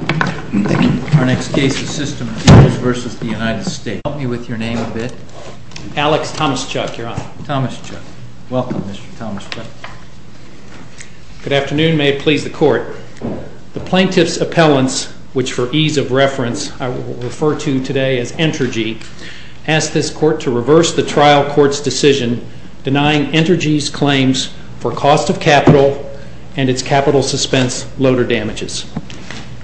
Our next case is SYSTEM FUELS v. United States. Help me with your name a bit. Alex Tomaszczuk, Your Honor. Tomaszczuk. Welcome, Mr. Tomaszczuk. Good afternoon. May it please the Court. The plaintiff's appellants, which for ease of reference I will refer to today as Entergy, asked this Court to reverse the trial court's decision denying Entergy's claims for cost of capital and its capital suspense loader damages.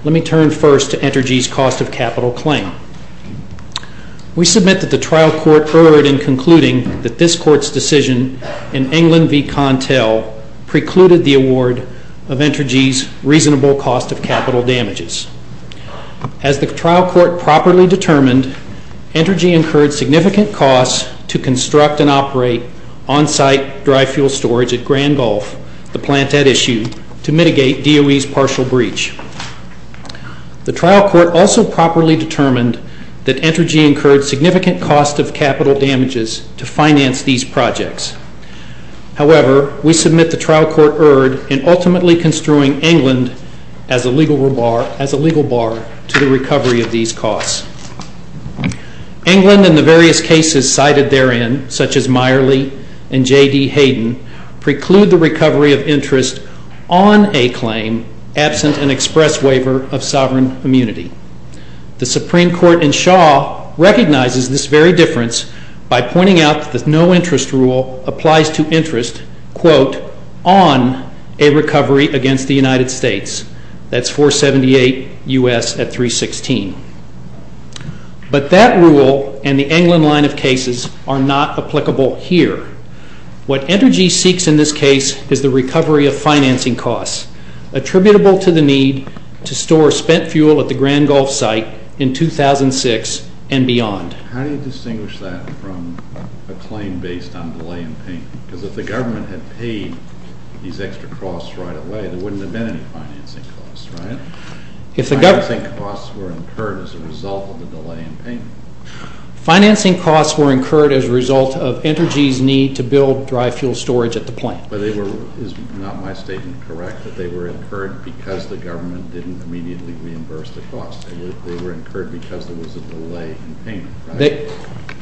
Let me turn first to Entergy's cost of capital claim. We submit that the trial court erred in concluding that this Court's decision in England v. Contell precluded the award of Entergy's reasonable cost of capital damages. As the trial court properly determined, Entergy incurred significant costs to construct and operate on-site dry fuel storage at Grand Gulf, the plant at issue, to mitigate DOE's partial breach. The trial court also properly determined that Entergy incurred significant costs of capital damages to finance these projects. However, we submit the trial court erred in ultimately construing England as a legal bar to the recovery of these costs. England and the various cases cited therein, such as Meyerly and J.D. Hayden, preclude the recovery of interest on a claim absent an express waiver of sovereign immunity. The Supreme Court in Shaw recognizes this very difference by pointing out that the no-interest rule applies to interest on a recovery against the United States. That's 478 U.S. at 316. But that rule and the England line of cases are not applicable here. What Entergy seeks in this case is the recovery of financing costs attributable to the need to store spent fuel at the Grand Gulf site in 2006 and beyond. How do you distinguish that from a claim based on delay in payment? Because if the government had paid these extra costs right away, there wouldn't have been any financing costs, right? Financing costs were incurred as a result of the delay in payment. Financing costs were incurred as a result of Entergy's need to build dry fuel storage at the plant. But they were, is not my statement correct, that they were incurred because the government didn't immediately reimburse the cost. They were incurred because there was a delay in payment.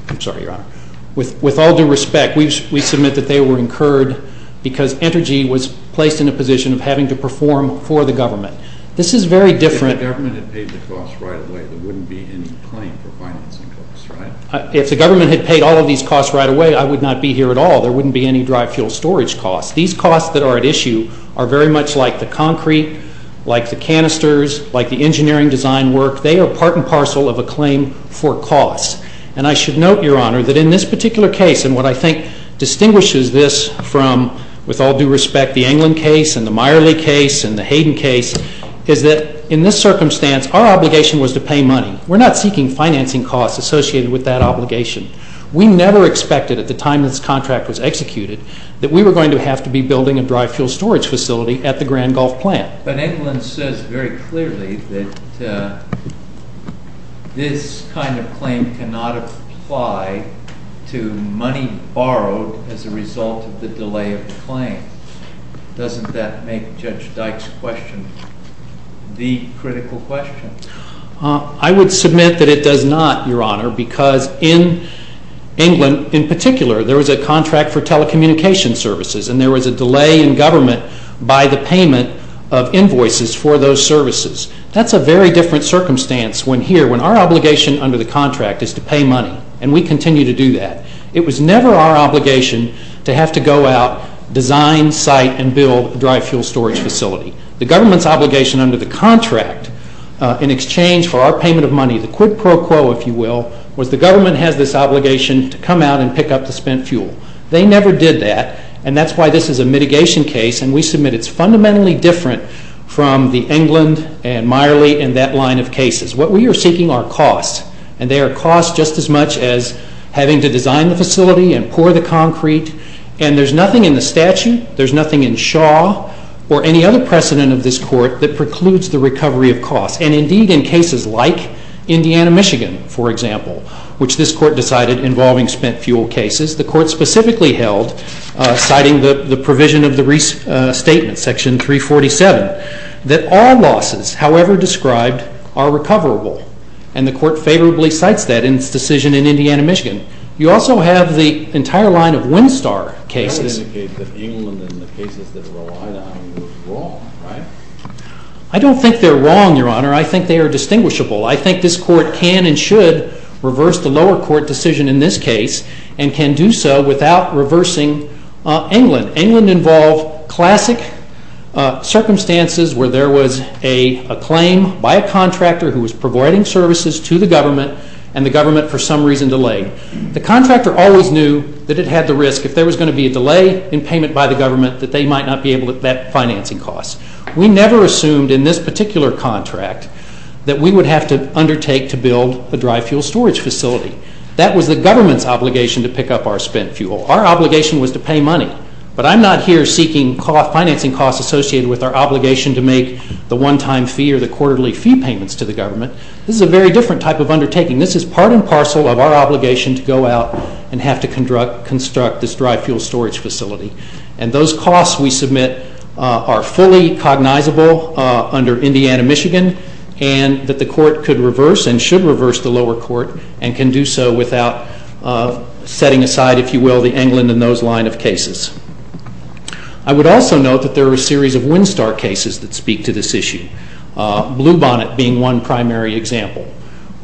I'm sorry, Your Honor. With all due respect, we submit that they were incurred because Entergy was placed in a position of having to perform for the government. This is very different. If the government had paid the costs right away, there wouldn't be any claim for financing costs, right? If the government had paid all of these costs right away, I would not be here at all. There wouldn't be any dry fuel storage costs. These costs that are at issue are very much like the concrete, like the canisters, like the engineering design work. They are part and parcel of a claim for costs. And I should note, Your Honor, that in this particular case, and what I think distinguishes this from, with all due respect, the England case and the Meyerly case and the Hayden case, is that in this circumstance, our obligation was to pay money. We're not seeking financing costs associated with that obligation. We never expected at the time this contract was executed that we were going to have to be building a dry fuel storage facility at the Grand Gulf Plant. But England says very clearly that this kind of claim cannot apply to money borrowed as a result of the delay of the claim. Doesn't that make Judge Dyke's question the critical question? I would submit that it does not, Your Honor, because in England, in particular, there was a contract for telecommunications services, and there was a delay in government by the payment of invoices for those services. That's a very different circumstance when here, when our obligation under the contract is to pay money, and we continue to do that. It was never our obligation to have to go out, design, site, and build a dry fuel storage facility. The government's obligation under the contract in exchange for our payment of money, the quid pro quo, if you will, was the government has this obligation to come out and pick up the spent fuel. They never did that, and that's why this is a mitigation case, and we submit it's fundamentally different from the England and Miley and that line of cases. What we are seeking are costs, and they are costs just as much as having to design the facility and pour the concrete, and there's nothing in the statute, there's nothing in Shaw or any other precedent of this Court that precludes the recovery of costs, and indeed in cases like Indiana, Michigan, for example, which this Court decided involving spent fuel cases. The Court specifically held, citing the provision of the restatement, section 347, that all losses, however described, are recoverable, and the Court favorably cites that in its decision in Indiana, Michigan. You also have the entire line of Winstar cases. That would indicate that England and the cases that are relied on were wrong, right? I don't think they're wrong, Your Honor. I think they are distinguishable. I think this Court can and should reverse the lower court decision in this case and can do so without reversing England. England involved classic circumstances where there was a claim by a contractor who was providing services to the government and the government for some reason delayed. The contractor always knew that it had the risk, if there was going to be a delay in payment by the government, that they might not be able to vet financing costs. We never assumed in this particular contract that we would have to undertake to build a dry fuel storage facility. That was the government's obligation to pick up our spent fuel. Our obligation was to pay money. But I'm not here seeking financing costs associated with our obligation to make the one-time fee or the quarterly fee payments to the government. This is a very different type of undertaking. This is part and parcel of our obligation to go out and have to construct this dry fuel storage facility. And those costs we submit are fully cognizable under Indiana, Michigan, and that the Court could reverse and should reverse the lower court and can do so without setting aside, if you will, the England and those line of cases. I would also note that there are a series of Winstar cases that speak to this issue, Bluebonnet being one primary example,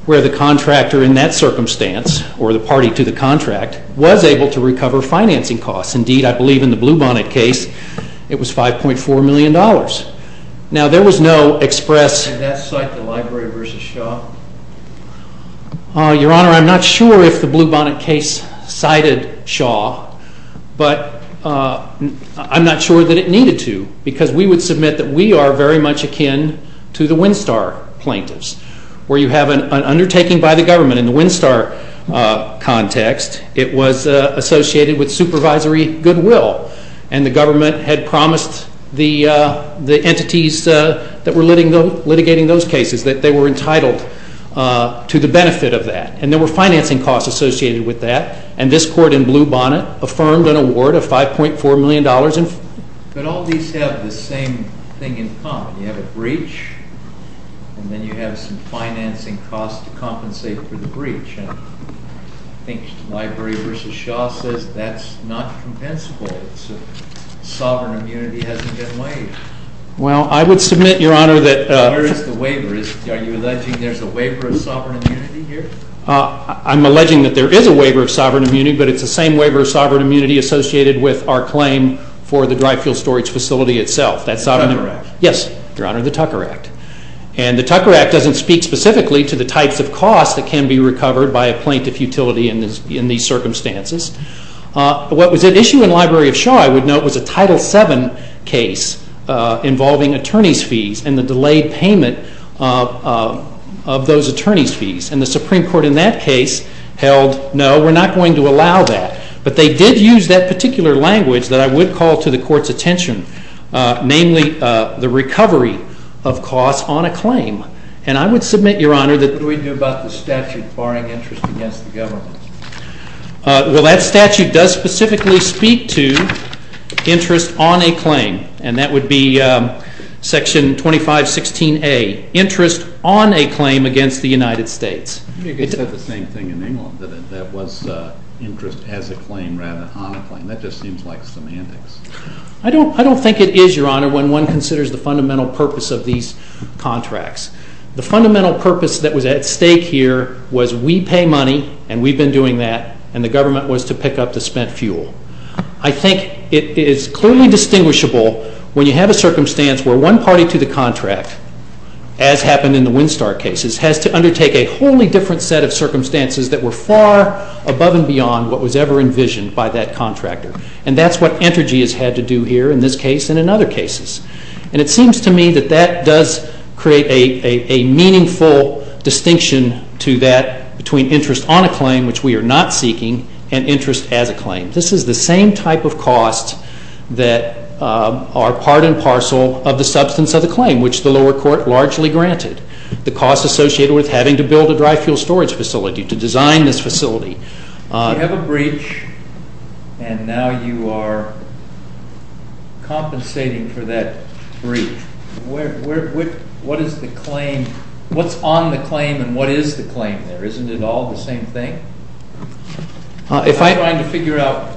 where the contractor in that circumstance, or the party to the contract, was able to recover financing costs. Indeed, I believe in the Bluebonnet case it was $5.4 million. Now there was no express... Your Honor, I'm not sure if the Bluebonnet case cited Shaw, but I'm not sure that it needed to because we would submit that we are very much akin to the Winstar plaintiffs, where you have an undertaking by the government. In the Winstar context, it was associated with supervisory goodwill, and the government had promised the entities that were litigating those cases that they were entitled to the benefit of that. And there were financing costs associated with that, and this Court in Bluebonnet affirmed an award of $5.4 million. But all these have the same thing in common. You have a breach, and then you have some financing costs to compensate for the breach. I think Library v. Shaw says that's not compensable. Sovereign immunity hasn't been waived. Well, I would submit, Your Honor, that... Are you alleging there's a waiver of sovereign immunity here? I'm alleging that there is a waiver of sovereign immunity, but it's the same waiver of sovereign immunity associated with our claim for the dry fuel storage facility itself. The Tucker Act. Yes, Your Honor, the Tucker Act. And the Tucker Act doesn't speak specifically to the types of costs that can be recovered by a plaintiff utility in these circumstances. What was at issue in Library v. Shaw, I would note, was a Title VII case involving attorney's fees and the delayed payment of those attorney's fees. And the Supreme Court in that case held, no, we're not going to allow that. But they did use that particular language that I would call to the Court's attention, namely the recovery of costs on a claim. And I would submit, Your Honor, that... What do we do about the statute barring interest against the government? Well, that statute does specifically speak to interest on a claim, and that would be Section 2516A, interest on a claim against the United States. You said the same thing in England, that it was interest as a claim rather than on a claim. That just seems like semantics. I don't think it is, Your Honor, when one considers the fundamental purpose of these contracts. The fundamental purpose that was at stake here was we pay money, and we've been doing that, and the government was to pick up the spent fuel. I think it is clearly distinguishable when you have a circumstance where one party to the contract, as happened in the Winstar cases, has to undertake a wholly different set of circumstances that were far above and beyond what was ever envisioned by that contractor. And that's what Entergy has had to do here in this case and in other cases. And it seems to me that that does create a meaningful distinction to that between interest on a claim, which we are not seeking, and interest as a claim. This is the same type of cost that are part and parcel of the substance of the claim, which the lower court largely granted, the cost associated with having to build a dry fuel storage facility, to design this facility. You have a breach, and now you are compensating for that breach. What is the claim? What's on the claim, and what is the claim there? Isn't it all the same thing? I'm trying to figure out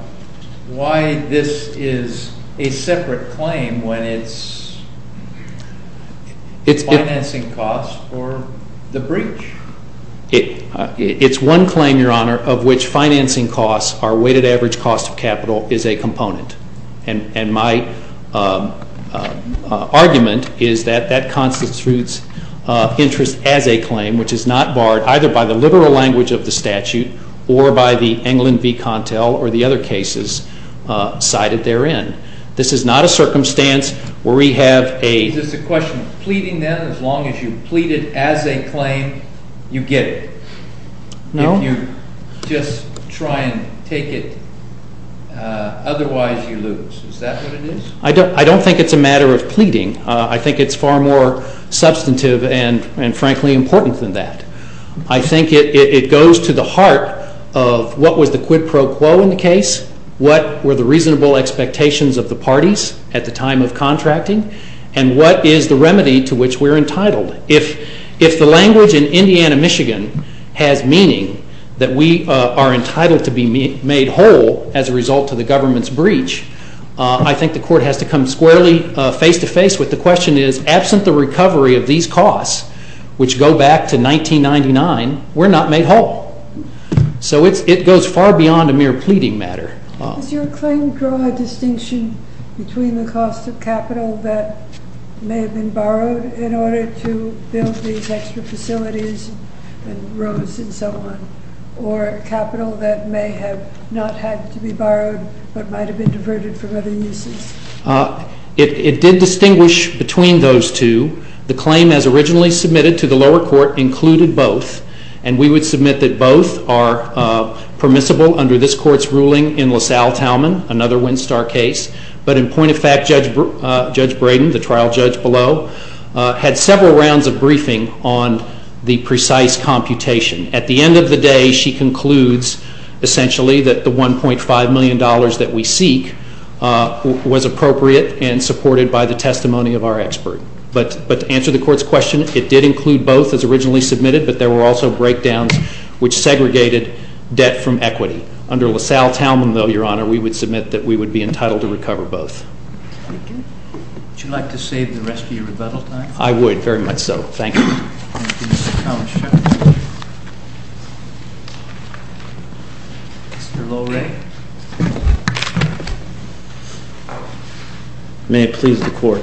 why this is a separate claim when it's financing costs for the breach. It's one claim, Your Honor, of which financing costs, our weighted average cost of capital, is a component. And my argument is that that constitutes interest as a claim, which is not barred either by the liberal language of the statute or by the England v. Contell or the other cases cited therein. This is not a circumstance where we have a- Is this a question of pleading, then? As long as you plead it as a claim, you get it? No. If you just try and take it, otherwise you lose. Is that what it is? I don't think it's a matter of pleading. I think it's far more substantive and, frankly, important than that. I think it goes to the heart of what was the quid pro quo in the case, what were the reasonable expectations of the parties at the time of contracting, and what is the remedy to which we're entitled. If the language in Indiana, Michigan, has meaning that we are entitled to be made whole as a result of the government's breach, I think the court has to come squarely face-to-face with the question is, absent the recovery of these costs, which go back to 1999, we're not made whole. So it goes far beyond a mere pleading matter. Does your claim draw a distinction between the cost of capital that may have been borrowed in order to build these extra facilities and roads and so on, or capital that may have not had to be borrowed but might have been diverted from other uses? It did distinguish between those two. The claim as originally submitted to the lower court included both, and we would submit that both are permissible under this court's ruling in LaSalle-Talman, another Winstar case. But in point of fact, Judge Braden, the trial judge below, had several rounds of briefing on the precise computation. At the end of the day, she concludes, essentially, that the $1.5 million that we seek was appropriate and supported by the testimony of our expert. But to answer the court's question, it did include both as originally submitted, but there were also breakdowns which segregated debt from equity. Under LaSalle-Talman, though, Your Honor, we would submit that we would be entitled to recover both. Would you like to save the rest of your rebuttal time? I would, very much so. Thank you. Thank you, Mr. Thomas. Mr. Lohre? May it please the court.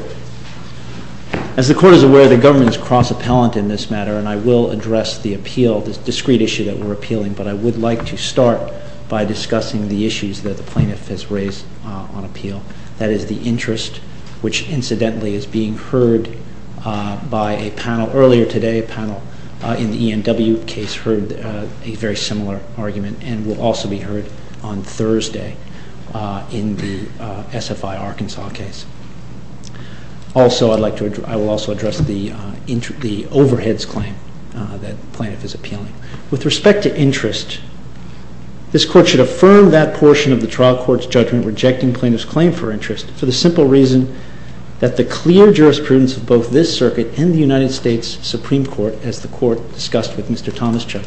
As the court is aware, the government is cross-appellant in this matter, and I will address the appeal, this discrete issue that we're appealing, but I would like to start by discussing the issues that the plaintiff has raised on appeal. That is the interest, which, incidentally, is being heard by a panel earlier today. A panel in the E&W case heard a very similar argument and will also be heard on Thursday in the SFI Arkansas case. I will also address the overheads claim that the plaintiff is appealing. With respect to interest, this court should affirm that portion of the trial court's judgment in rejecting plaintiff's claim for interest for the simple reason that the clear jurisprudence of both this circuit and the United States Supreme Court, as the court discussed with Mr. Thomas Chuck,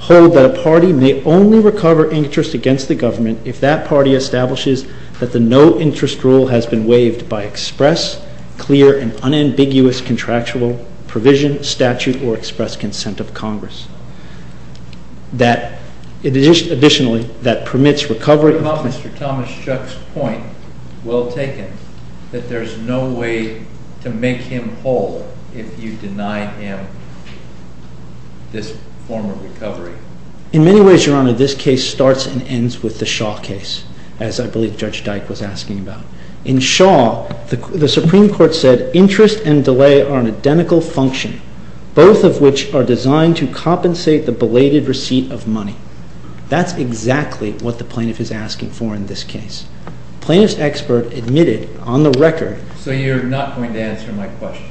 hold that a party may only recover interest against the government if that party establishes that the no-interest rule has been waived by express, clear, and unambiguous contractual provision, statute, or express consent of Congress. Additionally, that permits recovery... What about Mr. Thomas Chuck's point, well taken, that there's no way to make him whole if you deny him this form of recovery? In many ways, Your Honor, this case starts and ends with the Shaw case, as I believe Judge Dyke was asking about. In Shaw, the Supreme Court said interest and delay are an identical function, both of which are designed to compensate the belated receipt of money. That's exactly what the plaintiff is asking for in this case. Plaintiff's expert admitted on the record... So you're not going to answer my question?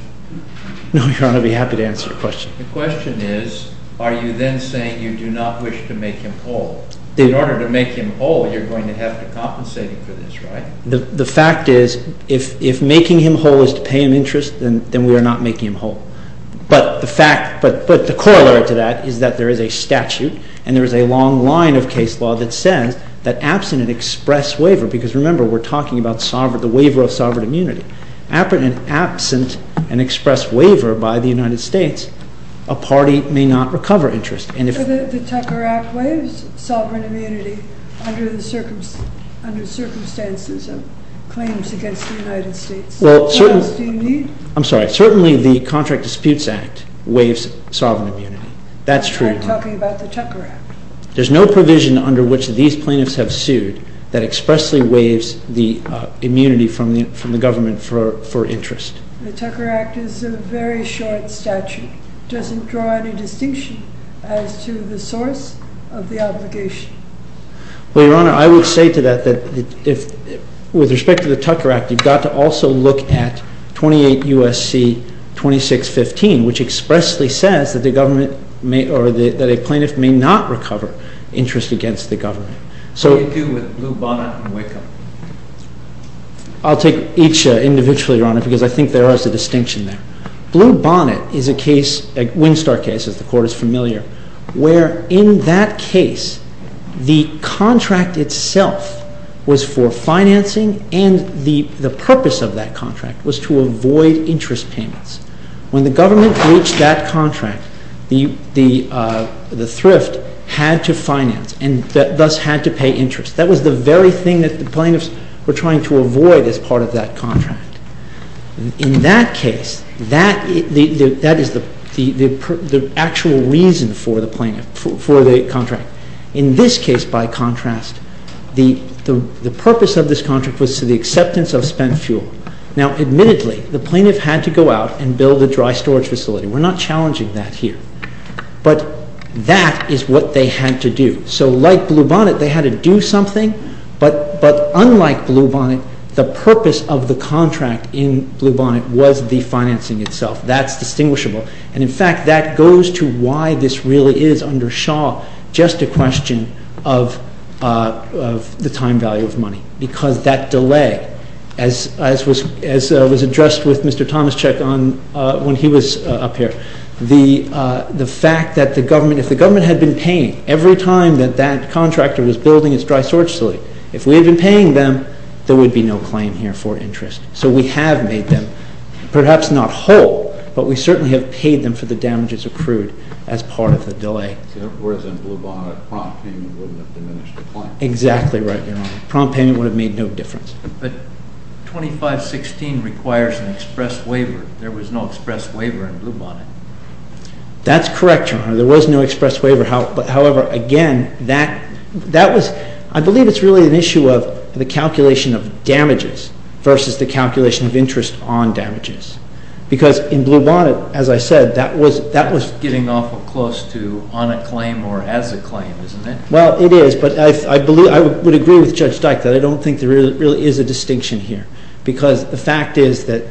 No, Your Honor, I'd be happy to answer your question. The question is, are you then saying you do not wish to make him whole? In order to make him whole, you're going to have to compensate him for this, right? The fact is, if making him whole is to pay him interest, then we are not making him whole. But the fact, but the corollary to that is that there is a statute and there is a long line of case law that says that absent an express waiver, because remember, we're talking about the waiver of sovereign immunity, absent an express waiver by the United States, a party may not recover interest. The Tucker Act waives sovereign immunity under the circumstances of claims against the United States. What else do you need? I'm sorry. Certainly the Contract Disputes Act waives sovereign immunity. That's true. I'm talking about the Tucker Act. There's no provision under which these plaintiffs have sued that expressly waives the immunity from the government for interest. The Tucker Act is a very short statute. It doesn't draw any distinction as to the source of the obligation. Well, Your Honor, I would say to that that with respect to the Tucker Act, you've got to also look at 28 U.S.C. 2615, which expressly says that a plaintiff may not recover interest against the government. What do you do with Blue Bonnet and Wickham? I'll take each individually, Your Honor, because I think there is a distinction there. Blue Bonnet is a case, a Winstar case, as the Court is familiar, where in that case the contract itself was for financing and the purpose of that contract was to avoid interest payments. When the government breached that contract, the thrift had to finance and thus had to pay interest. That was the very thing that the plaintiffs were trying to avoid as part of that contract. In that case, that is the actual reason for the contract. In this case, by contrast, the purpose of this contract was to the acceptance of spent fuel. Now, admittedly, the plaintiff had to go out and build a dry storage facility. We're not challenging that here. But that is what they had to do. So like Blue Bonnet, they had to do something, but unlike Blue Bonnet, the purpose of the contract in Blue Bonnet was the financing itself. That's distinguishable. And, in fact, that goes to why this really is under Shaw just a question of the time value of money because that delay, as was addressed with Mr. Tomaszczuk when he was up here, the fact that if the government had been paying every time that that contractor was building its dry storage facility, if we had been paying them, there would be no claim here for interest. So we have made them, perhaps not whole, but we certainly have paid them for the damages accrued as part of the delay. Whereas in Blue Bonnet, prompt payment would have diminished the claim. Exactly right, Your Honor. Prompt payment would have made no difference. But 2516 requires an express waiver. There was no express waiver in Blue Bonnet. That's correct, Your Honor. There was no express waiver. However, again, that was, I believe it's really an issue of the calculation of damages versus the calculation of interest on damages because in Blue Bonnet, as I said, that was Getting awful close to on a claim or as a claim, isn't it? Well, it is, but I would agree with Judge Dyke that I don't think there really is a distinction here because the fact is that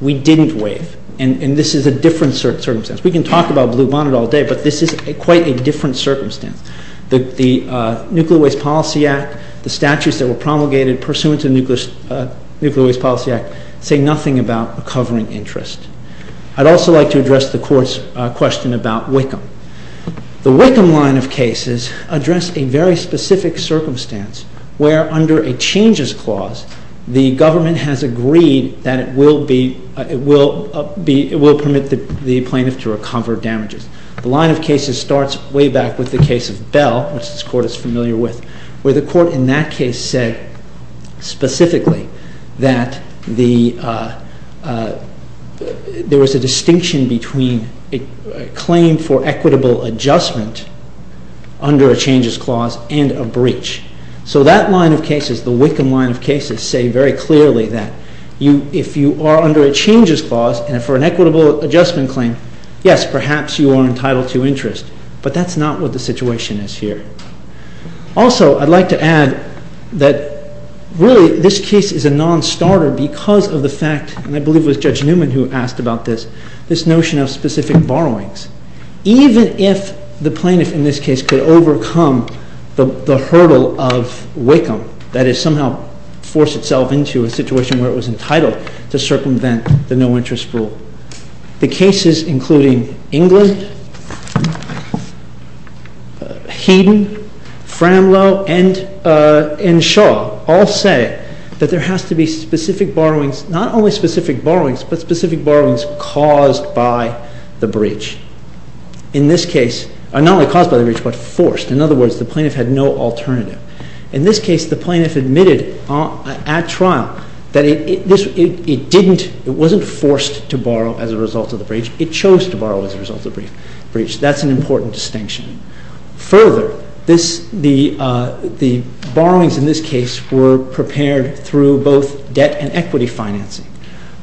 we didn't waive, and this is a different circumstance. We can talk about Blue Bonnet all day, but this is quite a different circumstance. The Nuclear Waste Policy Act, the statutes that were promulgated pursuant to the Nuclear Waste Policy Act say nothing about covering interest. I'd also like to address the Court's question about Wickham. The Wickham line of cases address a very specific circumstance where under a changes clause, the government has agreed that it will permit the plaintiff to recover damages. The line of cases starts way back with the case of Bell, which this Court is familiar with, where the Court in that case said specifically that there was a distinction between a claim for equitable adjustment under a changes clause and a breach. So that line of cases, the Wickham line of cases, say very clearly that if you are under a changes clause and for an equitable adjustment claim, yes, perhaps you are entitled to interest, but that's not what the situation is here. Also, I'd like to add that really this case is a non-starter because of the fact, and I believe it was Judge Newman who asked about this, this notion of specific borrowings. Even if the plaintiff in this case could overcome the hurdle of Wickham, that is somehow force itself into a situation where it was entitled to circumvent the no-interest rule, the cases including England, Heaton, Framlow, and Shaw all say that there has to be specific borrowings, not only specific borrowings, but specific borrowings caused by the breach. In this case, not only caused by the breach, but forced. In other words, the plaintiff had no alternative. In this case, the plaintiff admitted at trial that it wasn't forced to borrow as a result of the breach, it chose to borrow as a result of the breach. That's an important distinction. Further, the borrowings in this case were prepared through both debt and equity financing.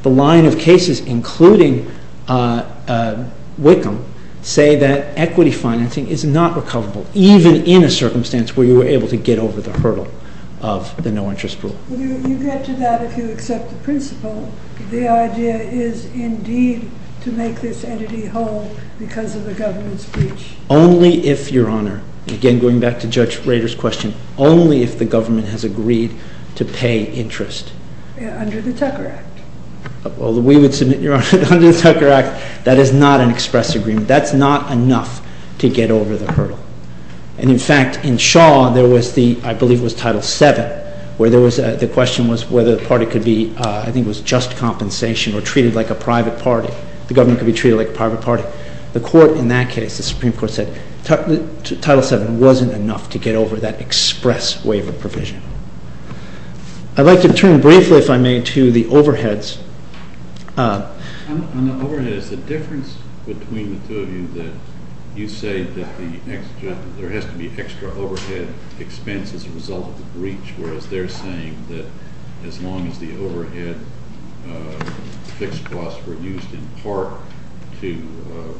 The line of cases including Wickham say that equity financing is not recoverable, even in a circumstance where you were able to get over the hurdle of the no-interest rule. You get to that if you accept the principle. The idea is indeed to make this entity whole because of the government's breach. Only if, Your Honor, again going back to Judge Rader's question, only if the government has agreed to pay interest. Under the Tucker Act. We would submit, Your Honor, under the Tucker Act, that is not an express agreement. That's not enough to get over the hurdle. In fact, in Shaw, there was the, I believe it was Title VII, where the question was whether the party could be, I think it was just compensation, or treated like a private party. The government could be treated like a private party. But the court in that case, the Supreme Court said, Title VII wasn't enough to get over that express waiver provision. I'd like to turn briefly, if I may, to the overheads. On the overheads, the difference between the two of you, that you say that there has to be extra overhead expense as a result of the breach, whereas they're saying that as long as the overhead fixed costs were used in part to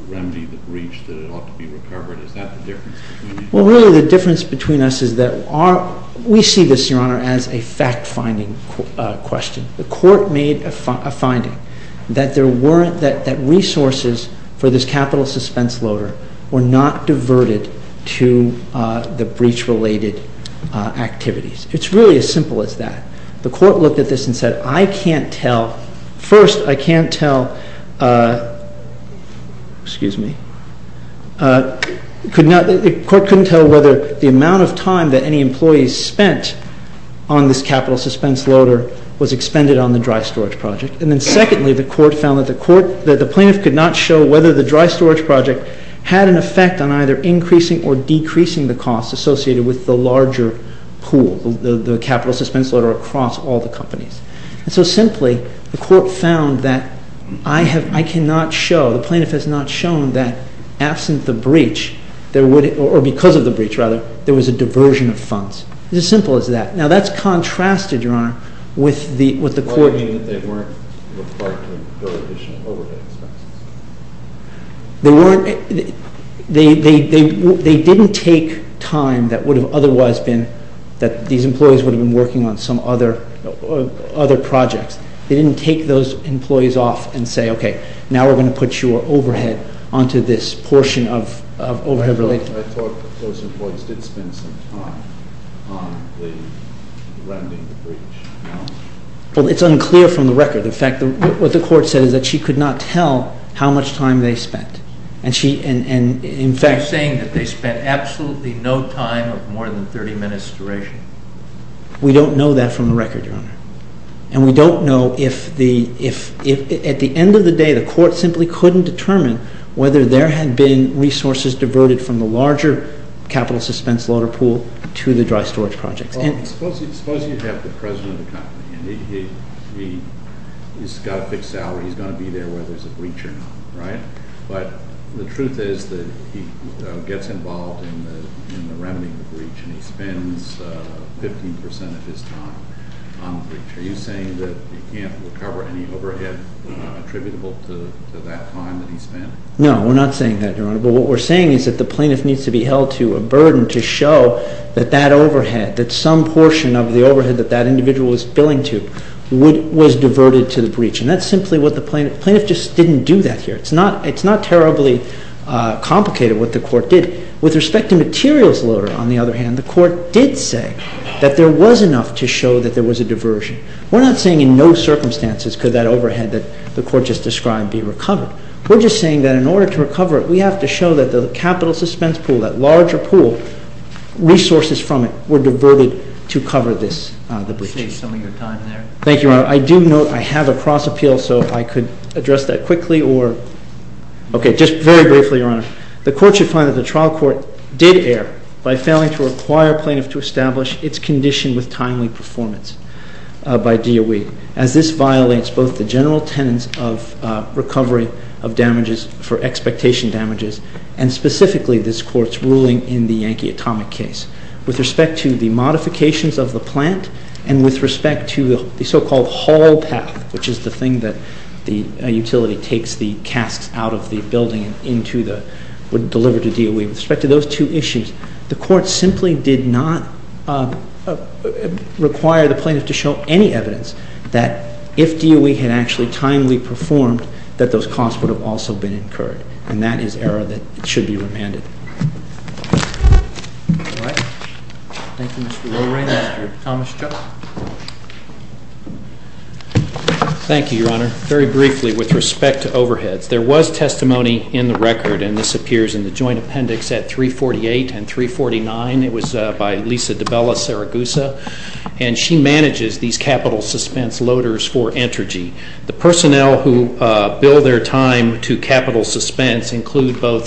remedy the breach, that it ought to be recovered. Is that the difference between you? Well, really the difference between us is that we see this, Your Honor, as a fact-finding question. The court made a finding that there weren't, that resources for this capital suspense loader were not diverted to the breach-related activities. It's really as simple as that. The court looked at this and said, I can't tell. First, I can't tell, excuse me, the court couldn't tell whether the amount of time that any employees spent on this capital suspense loader was expended on the dry storage project. And then secondly, the court found that the plaintiff could not show whether the dry storage project had an effect on either increasing or decreasing the costs associated with the larger pool, the capital suspense loader across all the companies. And so simply, the court found that I cannot show, the plaintiff has not shown that absent the breach, or because of the breach, rather, there was a diversion of funds. It's as simple as that. Now that's contrasted, Your Honor, with the court... What do you mean that they weren't required to go to additional overhead expenses? They didn't take time that would have otherwise been, that these employees would have been working on some other projects. They didn't take those employees off and say, okay, now we're going to put your overhead onto this portion of overhead related... I thought those employees did spend some time on the remedy of the breach. Well, it's unclear from the record. In fact, what the court said is that she could not tell how much time they spent. You're saying that they spent absolutely no time of more than 30 minutes duration? We don't know that from the record, Your Honor. And we don't know if at the end of the day, the court simply couldn't determine whether there had been resources diverted from the larger capital suspense loader pool to the dry storage projects. Suppose you have the president of the company, and he's got a fixed salary, he's going to be there whether there's a breach or not, right? But the truth is that he gets involved in the remedy of the breach, and he spends 15% of his time on the breach. Are you saying that he can't recover any overhead attributable to that time that he spent? No, we're not saying that, Your Honor. But what we're saying is that the plaintiff needs to be held to a burden to show that that overhead, that some portion of the overhead that that individual is billing to, was diverted to the breach. And that's simply what the plaintiff... It's not terribly complicated what the court did. With respect to materials loader, on the other hand, the court did say that there was enough to show that there was a diversion. We're not saying in no circumstances could that overhead that the court just described be recovered. We're just saying that in order to recover it, we have to show that the capital suspense pool, that larger pool, resources from it were diverted to cover this, the breach. I see you're selling your time there. Thank you, Your Honor. Your Honor, I do note I have a cross appeal, so if I could address that quickly or... Okay, just very briefly, Your Honor. The court should find that the trial court did err by failing to require plaintiff to establish its condition with timely performance by DOE, as this violates both the general tenets of recovery of damages for expectation damages, and specifically this court's ruling in the Yankee atomic case. With respect to the modifications of the plant and with respect to the so-called haul path, which is the thing that the utility takes the casks out of the building and into the, would deliver to DOE, with respect to those two issues, the court simply did not require the plaintiff to show any evidence that if DOE had actually timely performed, that those costs would have also been incurred. And that is error that should be remanded. All right. Thank you, Mr. Lorraine. Mr. Thomas Chuck. Thank you, Your Honor. Very briefly, with respect to overheads, there was testimony in the record, and this appears in the joint appendix at 348 and 349. It was by Lisa DiBella-Saragusa, and she manages these capital suspense loaders for Entergy. The personnel who bill their time to capital suspense include both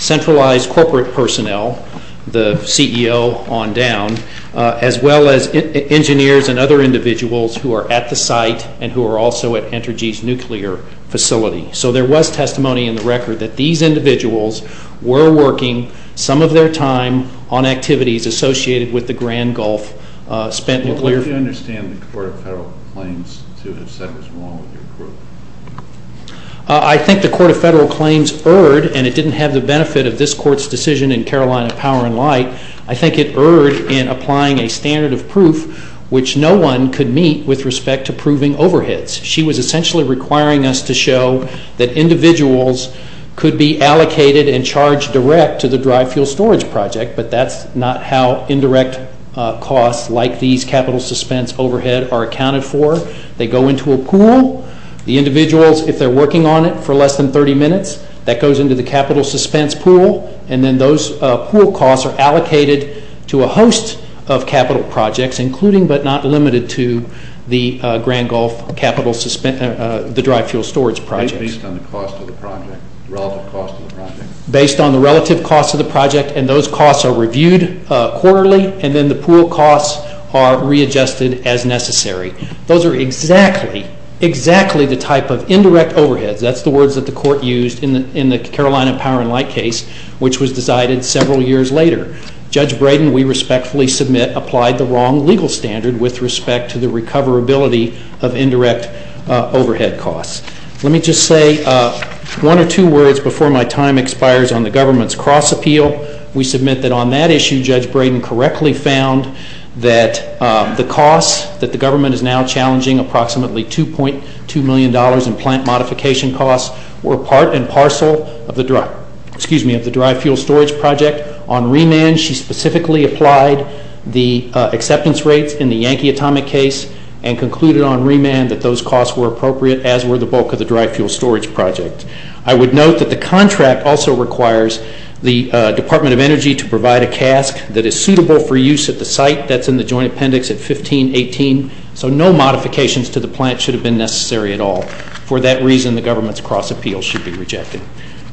centralized corporate personnel, the CEO on down, as well as engineers and other individuals who are at the site and who are also at Entergy's nuclear facility. So there was testimony in the record that these individuals were working some of their time on activities associated with the Grand Gulf spent nuclear. How do you understand the Court of Federal Claims to have said what's wrong with your group? I think the Court of Federal Claims erred, and it didn't have the benefit of this Court's decision in Carolina Power and Light. I think it erred in applying a standard of proof which no one could meet with respect to proving overheads. She was essentially requiring us to show that individuals could be allocated and charged direct to the dry fuel storage project, but that's not how indirect costs like these capital suspense overhead are accounted for. They go into a pool. The individuals, if they're working on it for less than 30 minutes, that goes into the capital suspense pool, and then those pool costs are allocated to a host of capital projects, including but not limited to the Grand Gulf capital suspense, the dry fuel storage projects. Based on the cost of the project, relative cost of the project? Based on the relative cost of the project, and those costs are reviewed quarterly, and then the pool costs are readjusted as necessary. Those are exactly, exactly the type of indirect overheads. That's the words that the Court used in the Carolina Power and Light case, which was decided several years later. Judge Brayden, we respectfully submit, applied the wrong legal standard with respect to the recoverability of indirect overhead costs. Let me just say one or two words before my time expires on the government's cross-appeal. We submit that on that issue, Judge Brayden correctly found that the costs that the government is now challenging, approximately $2.2 million in plant modification costs, were part and parcel of the dry fuel storage project. On remand, she specifically applied the acceptance rates in the Yankee Atomic case and concluded on remand that those costs were appropriate, as were the bulk of the dry fuel storage project. I would note that the contract also requires the Department of Energy to provide a cask that is suitable for use at the site that's in the joint appendix at 1518, so no modifications to the plant should have been necessary at all. For that reason, the government's cross-appeal should be rejected.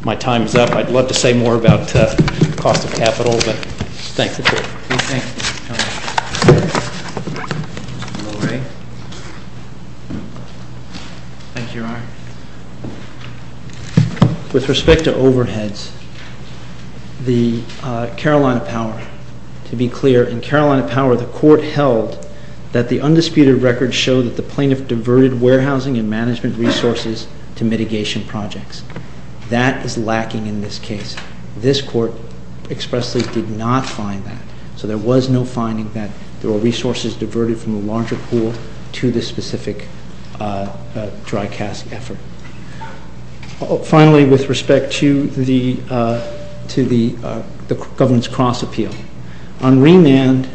My time is up. I'd love to say more about cost of capital, but thanks. Thank you. Lorraine? Thank you, Your Honor. With respect to overheads, the Carolina Power, to be clear, in Carolina Power, the court held that the undisputed record showed that the plaintiff diverted warehousing and management resources to mitigation projects. That is lacking in this case. This court expressly did not find that, so there was no finding that there were resources diverted from a larger pool to this specific dry cask effort. Finally, with respect to the government's cross-appeal, on remand,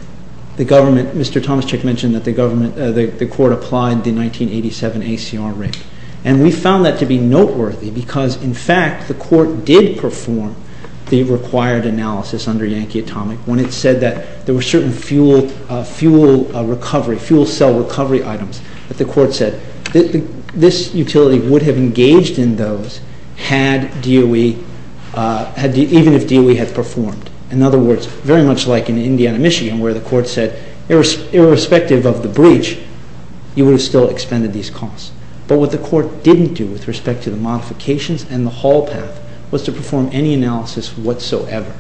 the government, Mr. Tomaszczyk mentioned that the court applied the 1987 ACR rate, and we found that to be noteworthy because, in fact, the court did perform the required analysis under Yankee Atomic when it said that there were certain fuel cell recovery items that the court said this utility would have engaged in those even if DOE had performed. In other words, very much like in Indiana, Michigan, where the court said, irrespective of the breach, you would have still expended these costs. But what the court didn't do with respect to the modifications and the haul path was to perform any analysis whatsoever.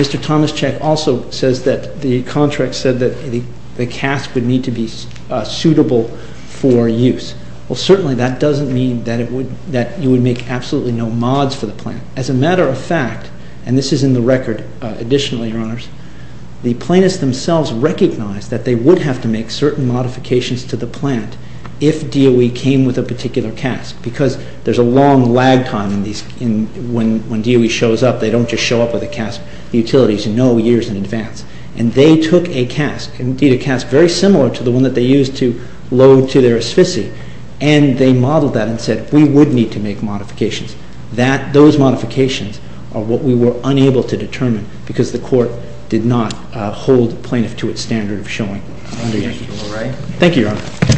Mr. Tomaszczyk also says that the contract said that the cask would need to be suitable for use. Well, certainly that doesn't mean that you would make absolutely no mods for the plant. As a matter of fact, and this is in the record additionally, Your Honors, the plaintiffs themselves recognized that they would have to make certain modifications to the plant if DOE came with a particular cask because there's a long lag time when DOE shows up. They don't just show up with a cask utility to know years in advance. And they took a cask, indeed a cask very similar to the one that they used to load to their asphyxia, and they modeled that and said, we would need to make modifications. Those modifications are what we were unable to determine because the court did not hold the plaintiff to its standard of showing under Yankee. Thank you, Your Honor.